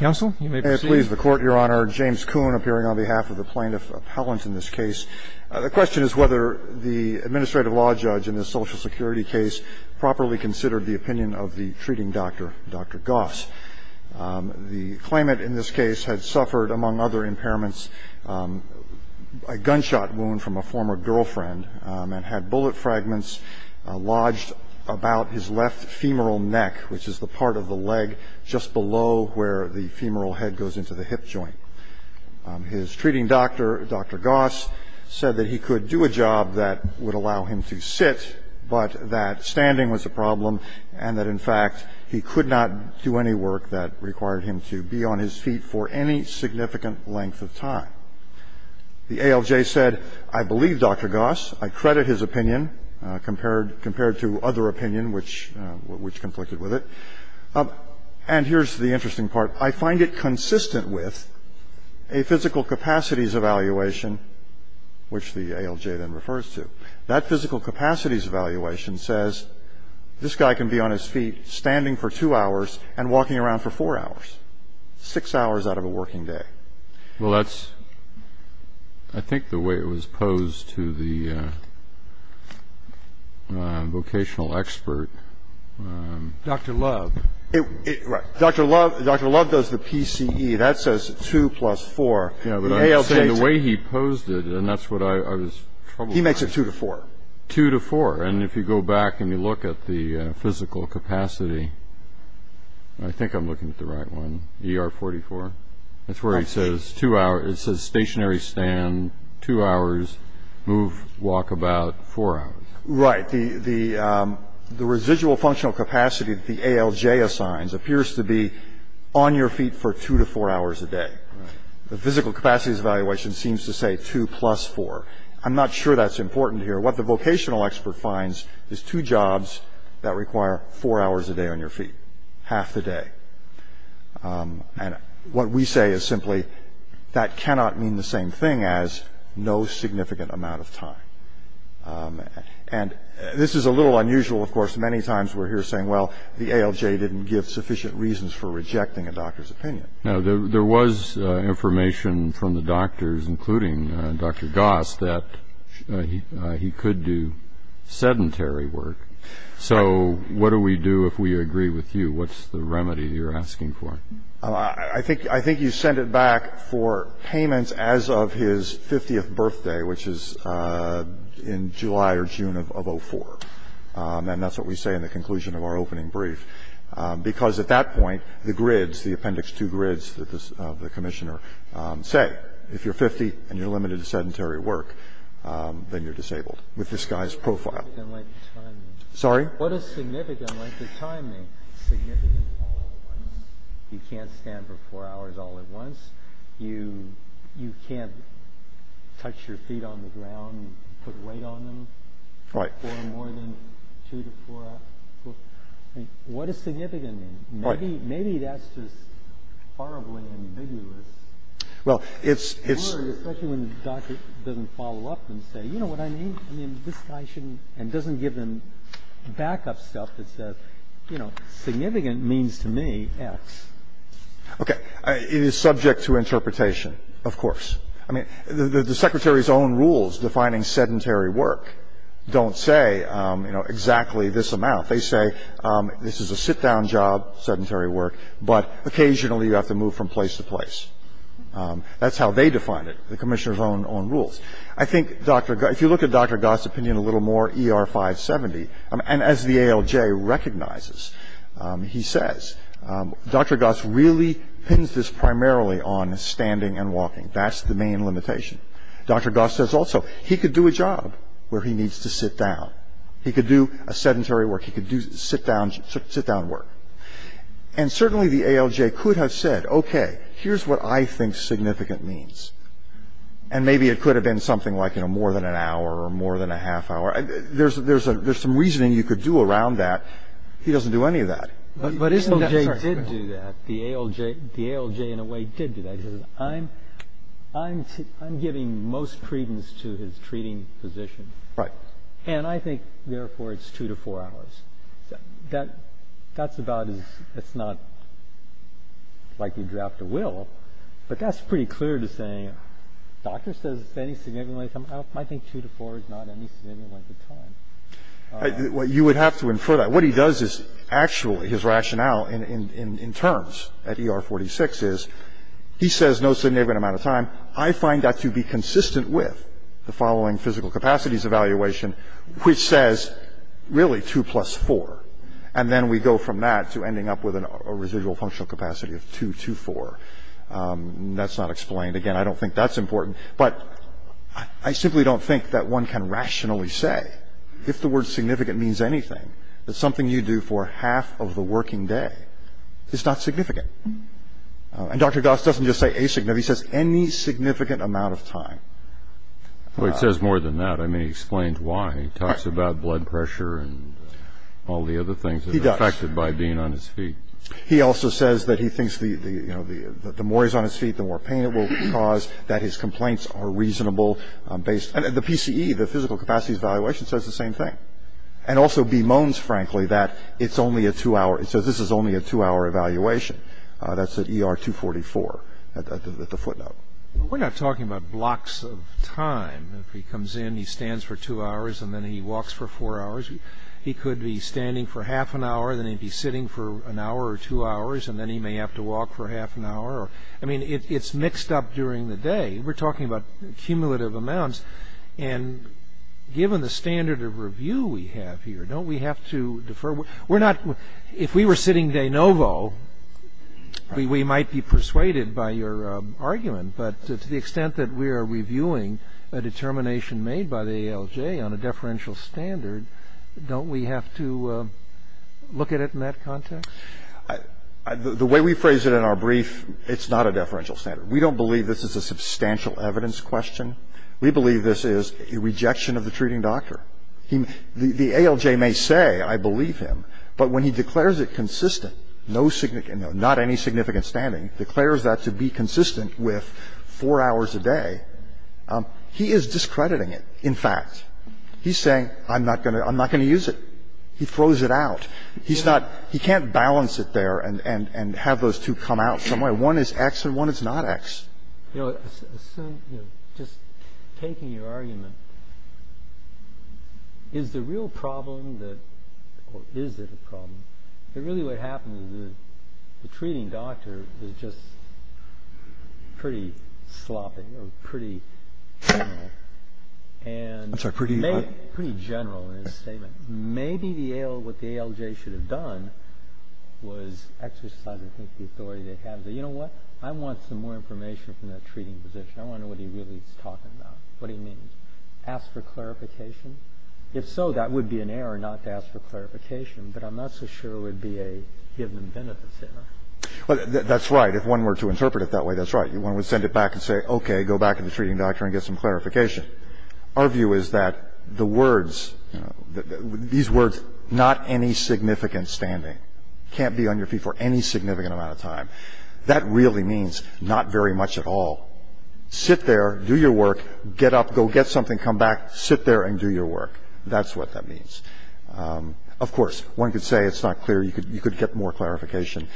The Court, Your Honor. James Kuhn appearing on behalf of the Plaintiff Appellant in this case. The question is whether the Administrative Law Judge in this Social Security case properly considered the opinion of the treating doctor, Dr. Goss. The claimant in this case had suffered, among other impairments, a gunshot wound from a former girlfriend and had bullet fragments lodged about his left femoral neck, which is the part of the leg just below where the femoral head goes into the hip joint. His treating doctor, Dr. Goss, said that he could do a job that would allow him to sit, but that standing was a problem and that, in fact, he could not do any work that required him to be on his feet for any significant length of time. The ALJ said, I believe Dr. Goss. I credit his opinion compared to other opinion which conflicted with it. And here's the interesting part. I find it consistent with a physical capacities evaluation, which the ALJ then refers to. That physical capacities evaluation says this guy can be on his feet standing for two hours and walking around for four hours, six hours out of a working day. Well, that's, I think, the way it was posed to the vocational expert. Dr. Love. Right. Dr. Love does the PCE. That says 2 plus 4. Yeah, but I would say the way he posed it, and that's what I was troubled with. He makes it 2 to 4. 2 to 4. And if you go back and you look at the physical capacity, I think I'm looking at the right one, ER 44. That's where it says stationary stand two hours, move, walk about four hours. Right. The residual functional capacity that the ALJ assigns appears to be on your feet for two to four hours a day. The physical capacities evaluation seems to say 2 plus 4. I'm not sure that's important here. What the vocational expert finds is two jobs that require four hours a day on your feet, half the day. And what we say is simply that cannot mean the same thing as no significant amount of time. And this is a little unusual. Of course, many times we're here saying, well, the ALJ didn't give sufficient reasons for rejecting a doctor's opinion. Now, there was information from the doctors, including Dr. Goss, that he could do sedentary work. So what do we do if we agree with you? What's the remedy you're asking for? I think you send it back for payments as of his 50th birthday, which is in July or June of 2004. And that's what we say in the conclusion of our opening brief. Because at that point, the grids, the appendix 2 grids of the commissioner say, if you're 50 and you're limited to sedentary work, then you're disabled with this guy's profile. Sorry? What is significant length of time? Significant all at once. You can't stand for four hours all at once. You can't touch your feet on the ground, put weight on them for more than two to four hours. What is significant? Maybe that's just horribly ambiguous. Well, it's — Especially when the doctor doesn't follow up and say, you know what I mean? I mean, this guy shouldn't, and doesn't give him backup stuff that says, you know, significant means to me X. Okay. It is subject to interpretation, of course. I mean, the Secretary's own rules defining sedentary work don't say, you know, exactly this amount. They say this is a sit-down job, sedentary work, but occasionally you have to move from place to place. That's how they define it, the commissioner's own rules. I think if you look at Dr. Goss' opinion a little more, ER 570, and as the ALJ recognizes, he says, Dr. Goss really pins this primarily on standing and walking. That's the main limitation. Dr. Goss says also he could do a job where he needs to sit down. He could do a sedentary work. He could do sit-down work. And certainly the ALJ could have said, okay, here's what I think significant means. And maybe it could have been something like, you know, more than an hour or more than a half hour. There's some reasoning you could do around that. He doesn't do any of that. But isn't that so? The ALJ did do that. The ALJ in a way did do that. He says, I'm giving most credence to his treating position. Right. And I think, therefore, it's two to four hours. That's about as ‑‑ it's not like you draft a will. But that's pretty clear to say, doctor says it's any significant amount of time. I think two to four is not any significant amount of time. You would have to infer that. What he does is actually his rationale in terms at ER 46 is he says no significant amount of time. I find that to be consistent with the following physical capacities evaluation, which says really two plus four. And then we go from that to ending up with a residual functional capacity of two to four. That's not explained. Again, I don't think that's important. But I simply don't think that one can rationally say, if the word significant means anything, that something you do for half of the working day is not significant. And Dr. Goss doesn't just say asignificant. He says any significant amount of time. Well, he says more than that. I mean, he explains why. He talks about blood pressure and all the other things that are affected by being on his feet. He does. He also says that he thinks the more he's on his feet, the more pain it will cause, that his complaints are reasonable. And the PCE, the physical capacities evaluation, says the same thing. And also bemoans, frankly, that it's only a two‑hour. It says this is only a two‑hour evaluation. That's at ER 244 at the footnote. We're not talking about blocks of time. If he comes in, he stands for two hours, and then he walks for four hours. He could be standing for half an hour, then he'd be sitting for an hour or two hours, and then he may have to walk for half an hour. I mean, it's mixed up during the day. We're talking about cumulative amounts. And given the standard of review we have here, don't we have to defer? We're not ‑‑ if we were sitting de novo, we might be persuaded by your argument. But to the extent that we are reviewing a determination made by the ALJ on a deferential standard, don't we have to look at it in that context? The way we phrase it in our brief, it's not a deferential standard. We don't believe this is a substantial evidence question. We believe this is a rejection of the treating doctor. The ALJ may say, I believe him, but when he declares it consistent, not any significant standing, declares that to be consistent with four hours a day, he is discrediting it, in fact. He's saying, I'm not going to use it. He throws it out. He can't balance it there and have those two come out some way. One is X and one is not X. Just taking your argument, is the real problem, or is it a problem, that really what happened is the treating doctor was just pretty sloppy or pretty general. I'm sorry, pretty what? Pretty general in his statement. Maybe what the ALJ should have done was exercise the authority they have. And that's the problem. The problem is that, you know what, I want some more information from that treating physician. I want to know what he really is talking about, what he means. Ask for clarification. If so, that would be an error not to ask for clarification, but I'm not so sure it would be a given benefits error. That's right. If one were to interpret it that way, that's right. One would send it back and say, okay, go back to the treating doctor and get some clarification. Our view is that the words, these words, not any significant standing, can't be on your feet for any significant amount of time. That really means not very much at all. Sit there, do your work, get up, go get something, come back, sit there and do your work. That's what that means. Of course, one could say it's not clear. You could get more clarification.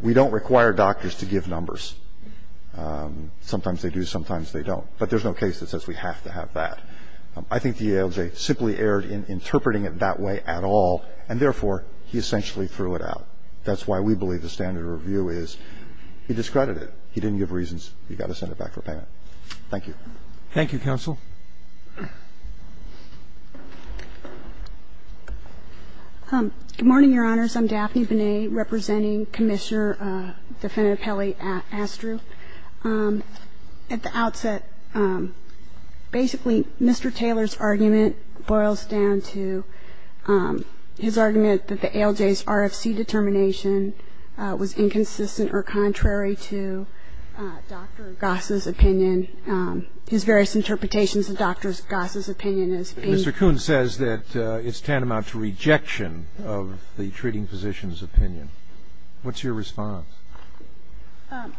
We don't require doctors to give numbers. Sometimes they do, sometimes they don't. But there's no case that says we have to have that. I think the ALJ simply erred in interpreting it that way at all, and therefore, he essentially threw it out. That's why we believe the standard review is he discredited it. He didn't give reasons. You've got to send it back for payment. Thank you. Thank you, counsel. Good morning, Your Honors. I'm Daphne Binet representing Commissioner Defendant Kelly Astru. At the outset, basically, Mr. Taylor's argument boils down to his argument that the ALJ's RFC determination was inconsistent or contrary to Dr. Goss's opinion, his various interpretations of Dr. Goss's opinion as being. Mr. Kuhn says that it's tantamount to rejection of the treating physician's opinion. What's your response?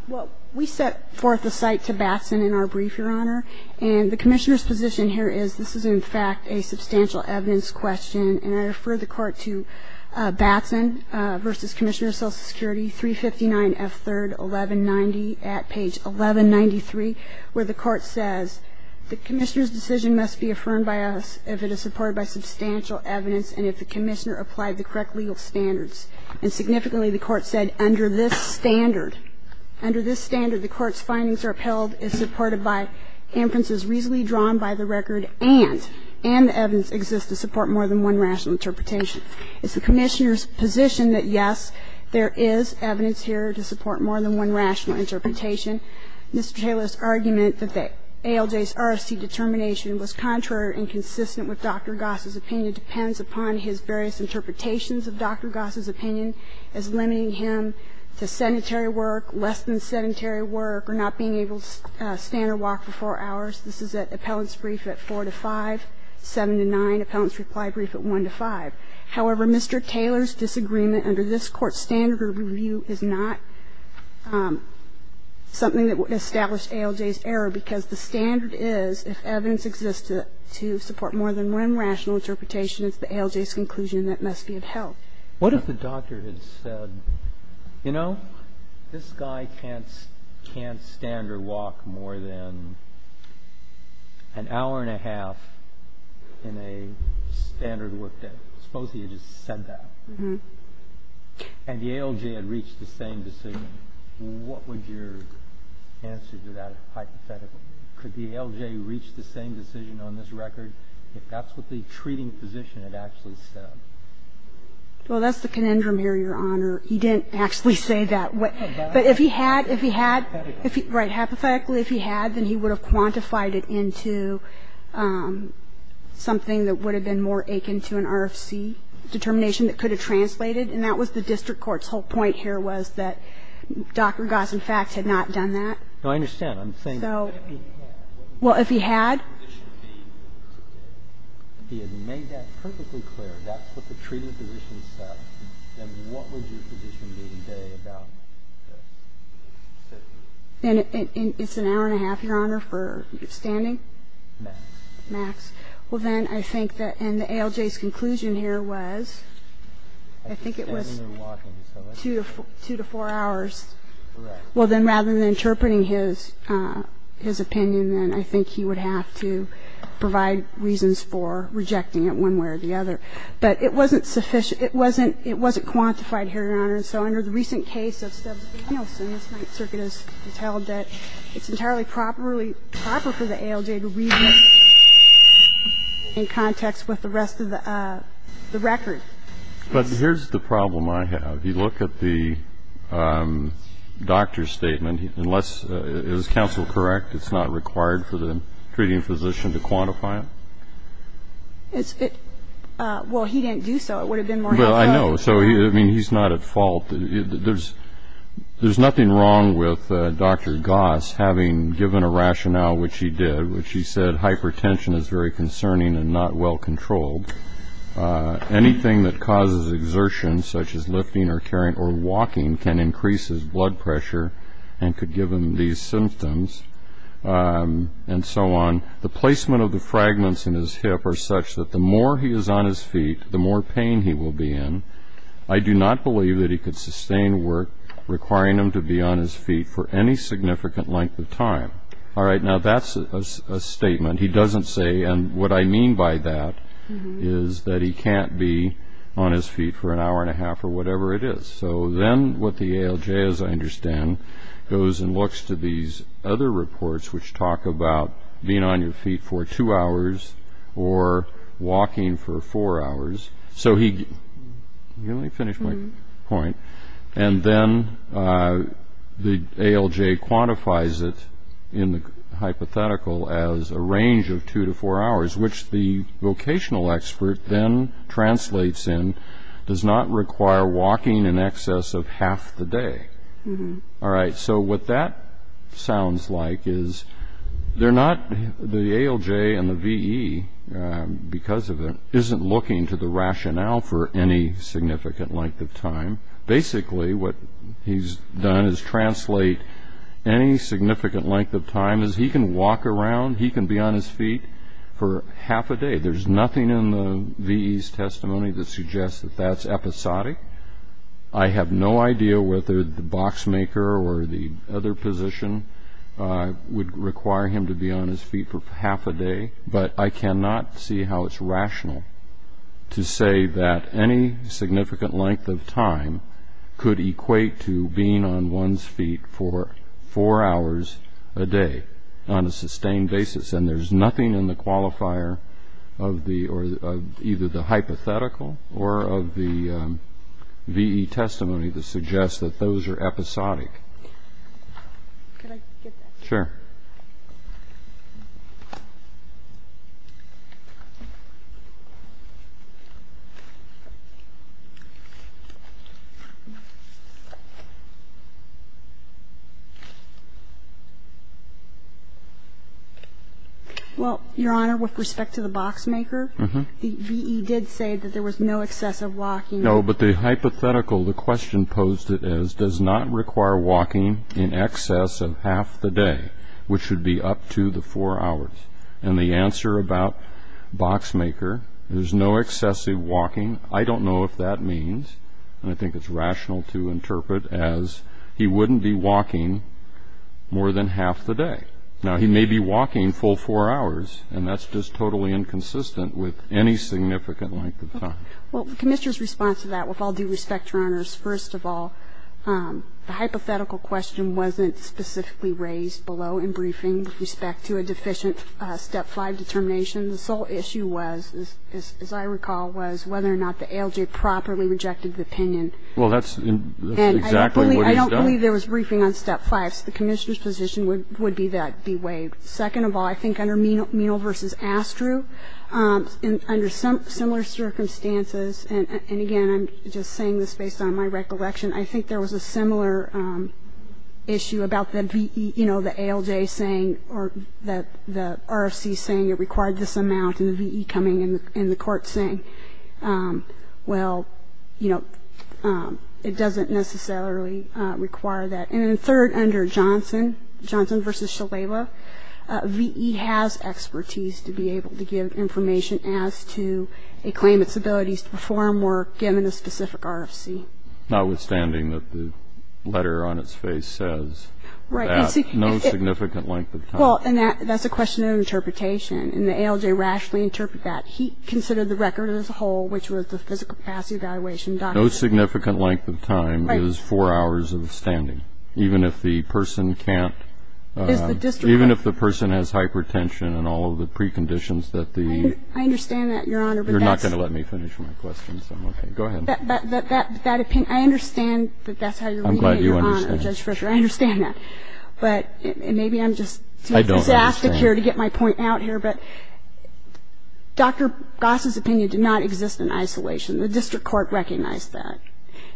Well, we set forth a cite to Batson in our brief, Your Honor, and the Commissioner's position here is this is, in fact, a substantial evidence question, and I refer the Court to Batson v. Commissioner of Social Security, 359 F. 3rd, 1190, at page 1193, where the Court says the Commissioner's decision must be affirmed by us if it is supported by substantial evidence and if the Commissioner applied the correct legal standards. And significantly, the Court said under this standard, under this standard, the Court's findings are upheld, is supported by inferences reasonably drawn by the interpretation. It's the Commissioner's position that, yes, there is evidence here to support more than one rational interpretation. Mr. Taylor's argument that the ALJ's RFC determination was contrary or inconsistent with Dr. Goss's opinion depends upon his various interpretations of Dr. Goss's opinion as limiting him to sedentary work, less than sedentary work, or not being able to stand or walk for 4 hours. This is at appellant's brief at 4 to 5, 7 to 9, appellant's reply brief at 1 to 5. However, Mr. Taylor's disagreement under this Court's standard review is not something that would establish ALJ's error, because the standard is if evidence exists to support more than one rational interpretation, it's the ALJ's conclusion that must be upheld. What if the doctor had said, you know, this guy can't stand or walk more than an hour and a half in a standard work day, suppose he had just said that, and the ALJ had reached the same decision, what would your answer to that hypothetically? Could the ALJ reach the same decision on this record if that's what the treating physician had actually said? Well, that's the conundrum here, Your Honor. He didn't actually say that. But if he had, if he had, right, hypothetically if he had, then he would have quantified it into something that would have been more akin to an RFC determination that could have translated. And that was the district court's whole point here was that Dr. Goss, in fact, had not done that. No, I understand. I'm saying what if he had? Well, if he had. If he had made that perfectly clear, that's what the treating physician said, then what would your position be today about this? And it's an hour and a half, Your Honor, for standing? Max. Max. Well, then I think that in the ALJ's conclusion here was, I think it was two to four hours. Correct. Well, then rather than interpreting his opinion, then I think he would have to provide reasons for rejecting it one way or the other. But it wasn't sufficient. It wasn't quantified here, Your Honor. And so under the recent case of Stubbs-Nielsen, this Circuit has held that it's entirely proper for the ALJ to read it in context with the rest of the record. But here's the problem I have. If you look at the doctor's statement, unless, is counsel correct, it's not required for the treating physician to quantify it? Well, he didn't do so. It would have been more helpful. Well, I know. So, I mean, he's not at fault. There's nothing wrong with Dr. Goss having given a rationale, which he did, which he said hypertension is very concerning and not well controlled. Anything that causes exertion, such as lifting or carrying or walking, can increase his blood pressure and could give him these symptoms and so on. The placement of the fragments in his hip are such that the more he is on his feet, the more pain he will be in. I do not believe that he could sustain work requiring him to be on his feet for any significant length of time. All right, now that's a statement. He doesn't say, and what I mean by that is that he can't be on his feet for an hour and a half or whatever it is. So then what the ALJ, as I understand, goes and looks to these other reports, which talk about being on your feet for two hours or walking for four hours. So he, let me finish my point. And then the ALJ quantifies it in the hypothetical as a range of two to four hours, which the vocational expert then translates in, does not require walking in excess of half the day. All right, so what that sounds like is they're not, the ALJ and the VE, because of it, isn't looking to the rationale for any significant length of time. Basically what he's done is translate any significant length of time as he can walk around, he can be on his feet for half a day. There's nothing in the VE's testimony that suggests that that's episodic. I have no idea whether the boxmaker or the other physician would require him to be on his feet for half a day, but I cannot see how it's rational to say that any significant length of time could equate to being on one's feet for four hours a day on a sustained basis. And there's nothing in the qualifier of either the hypothetical or of the VE testimony that suggests that those are episodic. Could I get that? Sure. Well, Your Honor, with respect to the boxmaker, the VE did say that there was no excessive walking. No, but the hypothetical, the question posed it as, does not require walking in excess of half the day, which would be up to the four hours. And the answer about boxmaker, there's no excessive walking, I don't know if that means, and I think it's rational to interpret as he wouldn't be walking more than half the day. Now, he may be walking full four hours, and that's just totally inconsistent with any significant length of time. Well, the Commissioner's response to that, with all due respect, Your Honors, first of all, the hypothetical question wasn't specifically raised below in briefing with respect to a deficient Step 5 determination. The sole issue was, as I recall, was whether or not the ALJ properly rejected the opinion. Well, that's exactly what he's done. And I don't believe there was briefing on Step 5, so the Commissioner's position would be that be waived. Second of all, I think under Menal v. Astru, under similar circumstances, and again, I'm just saying this based on my recollection, I think there was a similar issue about the VE, you know, the ALJ saying, or the RFC saying it required this amount, and the VE coming, and the court saying, well, you know, it doesn't necessarily require that. And then third, under Johnson v. Shalewa, VE has expertise to be able to give information as to a claimant's abilities to perform work given a specific RFC. Notwithstanding that the letter on its face says that no significant length of time. Well, and that's a question of interpretation, and the ALJ rationally interpreted that. He considered the record as a whole, which was the physical capacity evaluation document. No significant length of time is four hours of standing, even if the person can't. Even if the person has hypertension and all of the preconditions that the... I understand that, Your Honor. You're not going to let me finish my question, so I'm okay. Go ahead. That opinion, I understand that that's how you're reading it, Your Honor, Judge Ritter. I'm glad you understand. I understand that. But maybe I'm just... I don't understand.... too exastic here to get my point out here, but Dr. Goss's opinion did not exist in isolation. The district court recognized that.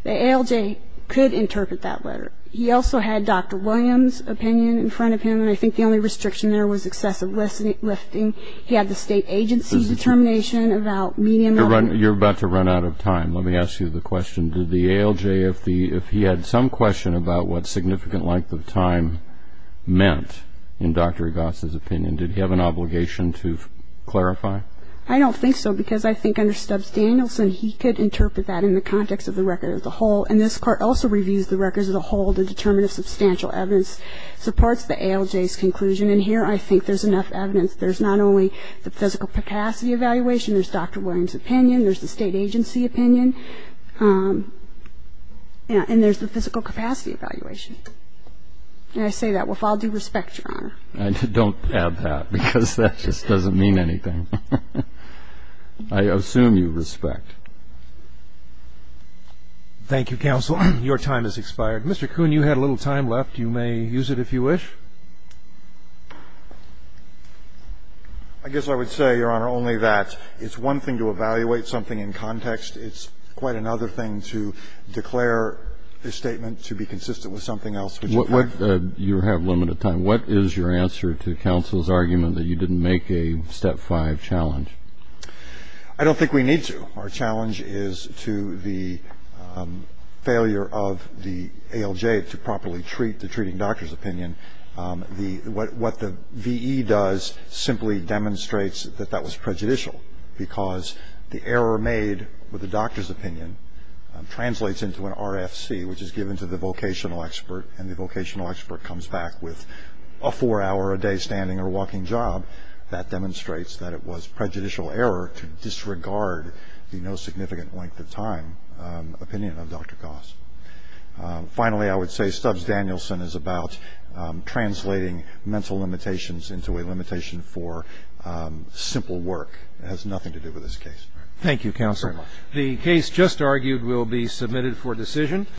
The ALJ could interpret that letter. He also had Dr. Williams' opinion in front of him, and I think the only restriction there was excessive lifting. He had the state agency's determination about... You're about to run out of time. Let me ask you the question. Did the ALJ, if he had some question about what significant length of time meant, in Dr. Goss's opinion, did he have an obligation to clarify? I don't think so, because I think under Stubbs Danielson, he could interpret that in the context of the record of the whole, and this court also reviews the records of the whole. The determinative substantial evidence supports the ALJ's conclusion, and here I think there's enough evidence. There's not only the physical capacity evaluation, there's Dr. Williams' opinion, there's the state agency opinion, and there's the physical capacity evaluation. And I say that with all due respect, Your Honor. I don't have that, because that just doesn't mean anything. I assume you respect. Thank you, counsel. Your time has expired. Mr. Kuhn, you had a little time left. You may use it if you wish. I guess I would say, Your Honor, only that it's one thing to evaluate something in context. It's quite another thing to declare a statement to be consistent with something that you have. You have limited time. What is your answer to counsel's argument that you didn't make a step five challenge? I don't think we need to. Our challenge is to the failure of the ALJ to properly treat the treating doctor's opinion. What the V.E. does simply demonstrates that that was prejudicial, because the error made with the doctor's opinion translates into an RFC, which is given to the vocational expert, and the vocational expert comes back with a four-hour-a-day standing or walking job. That demonstrates that it was prejudicial error to disregard the no significant length of time opinion of Dr. Goss. Finally, I would say Stubbs-Danielson is about translating mental limitations into a limitation for simple work. It has nothing to do with this case. Thank you, counsel. The case just argued will be submitted for decision.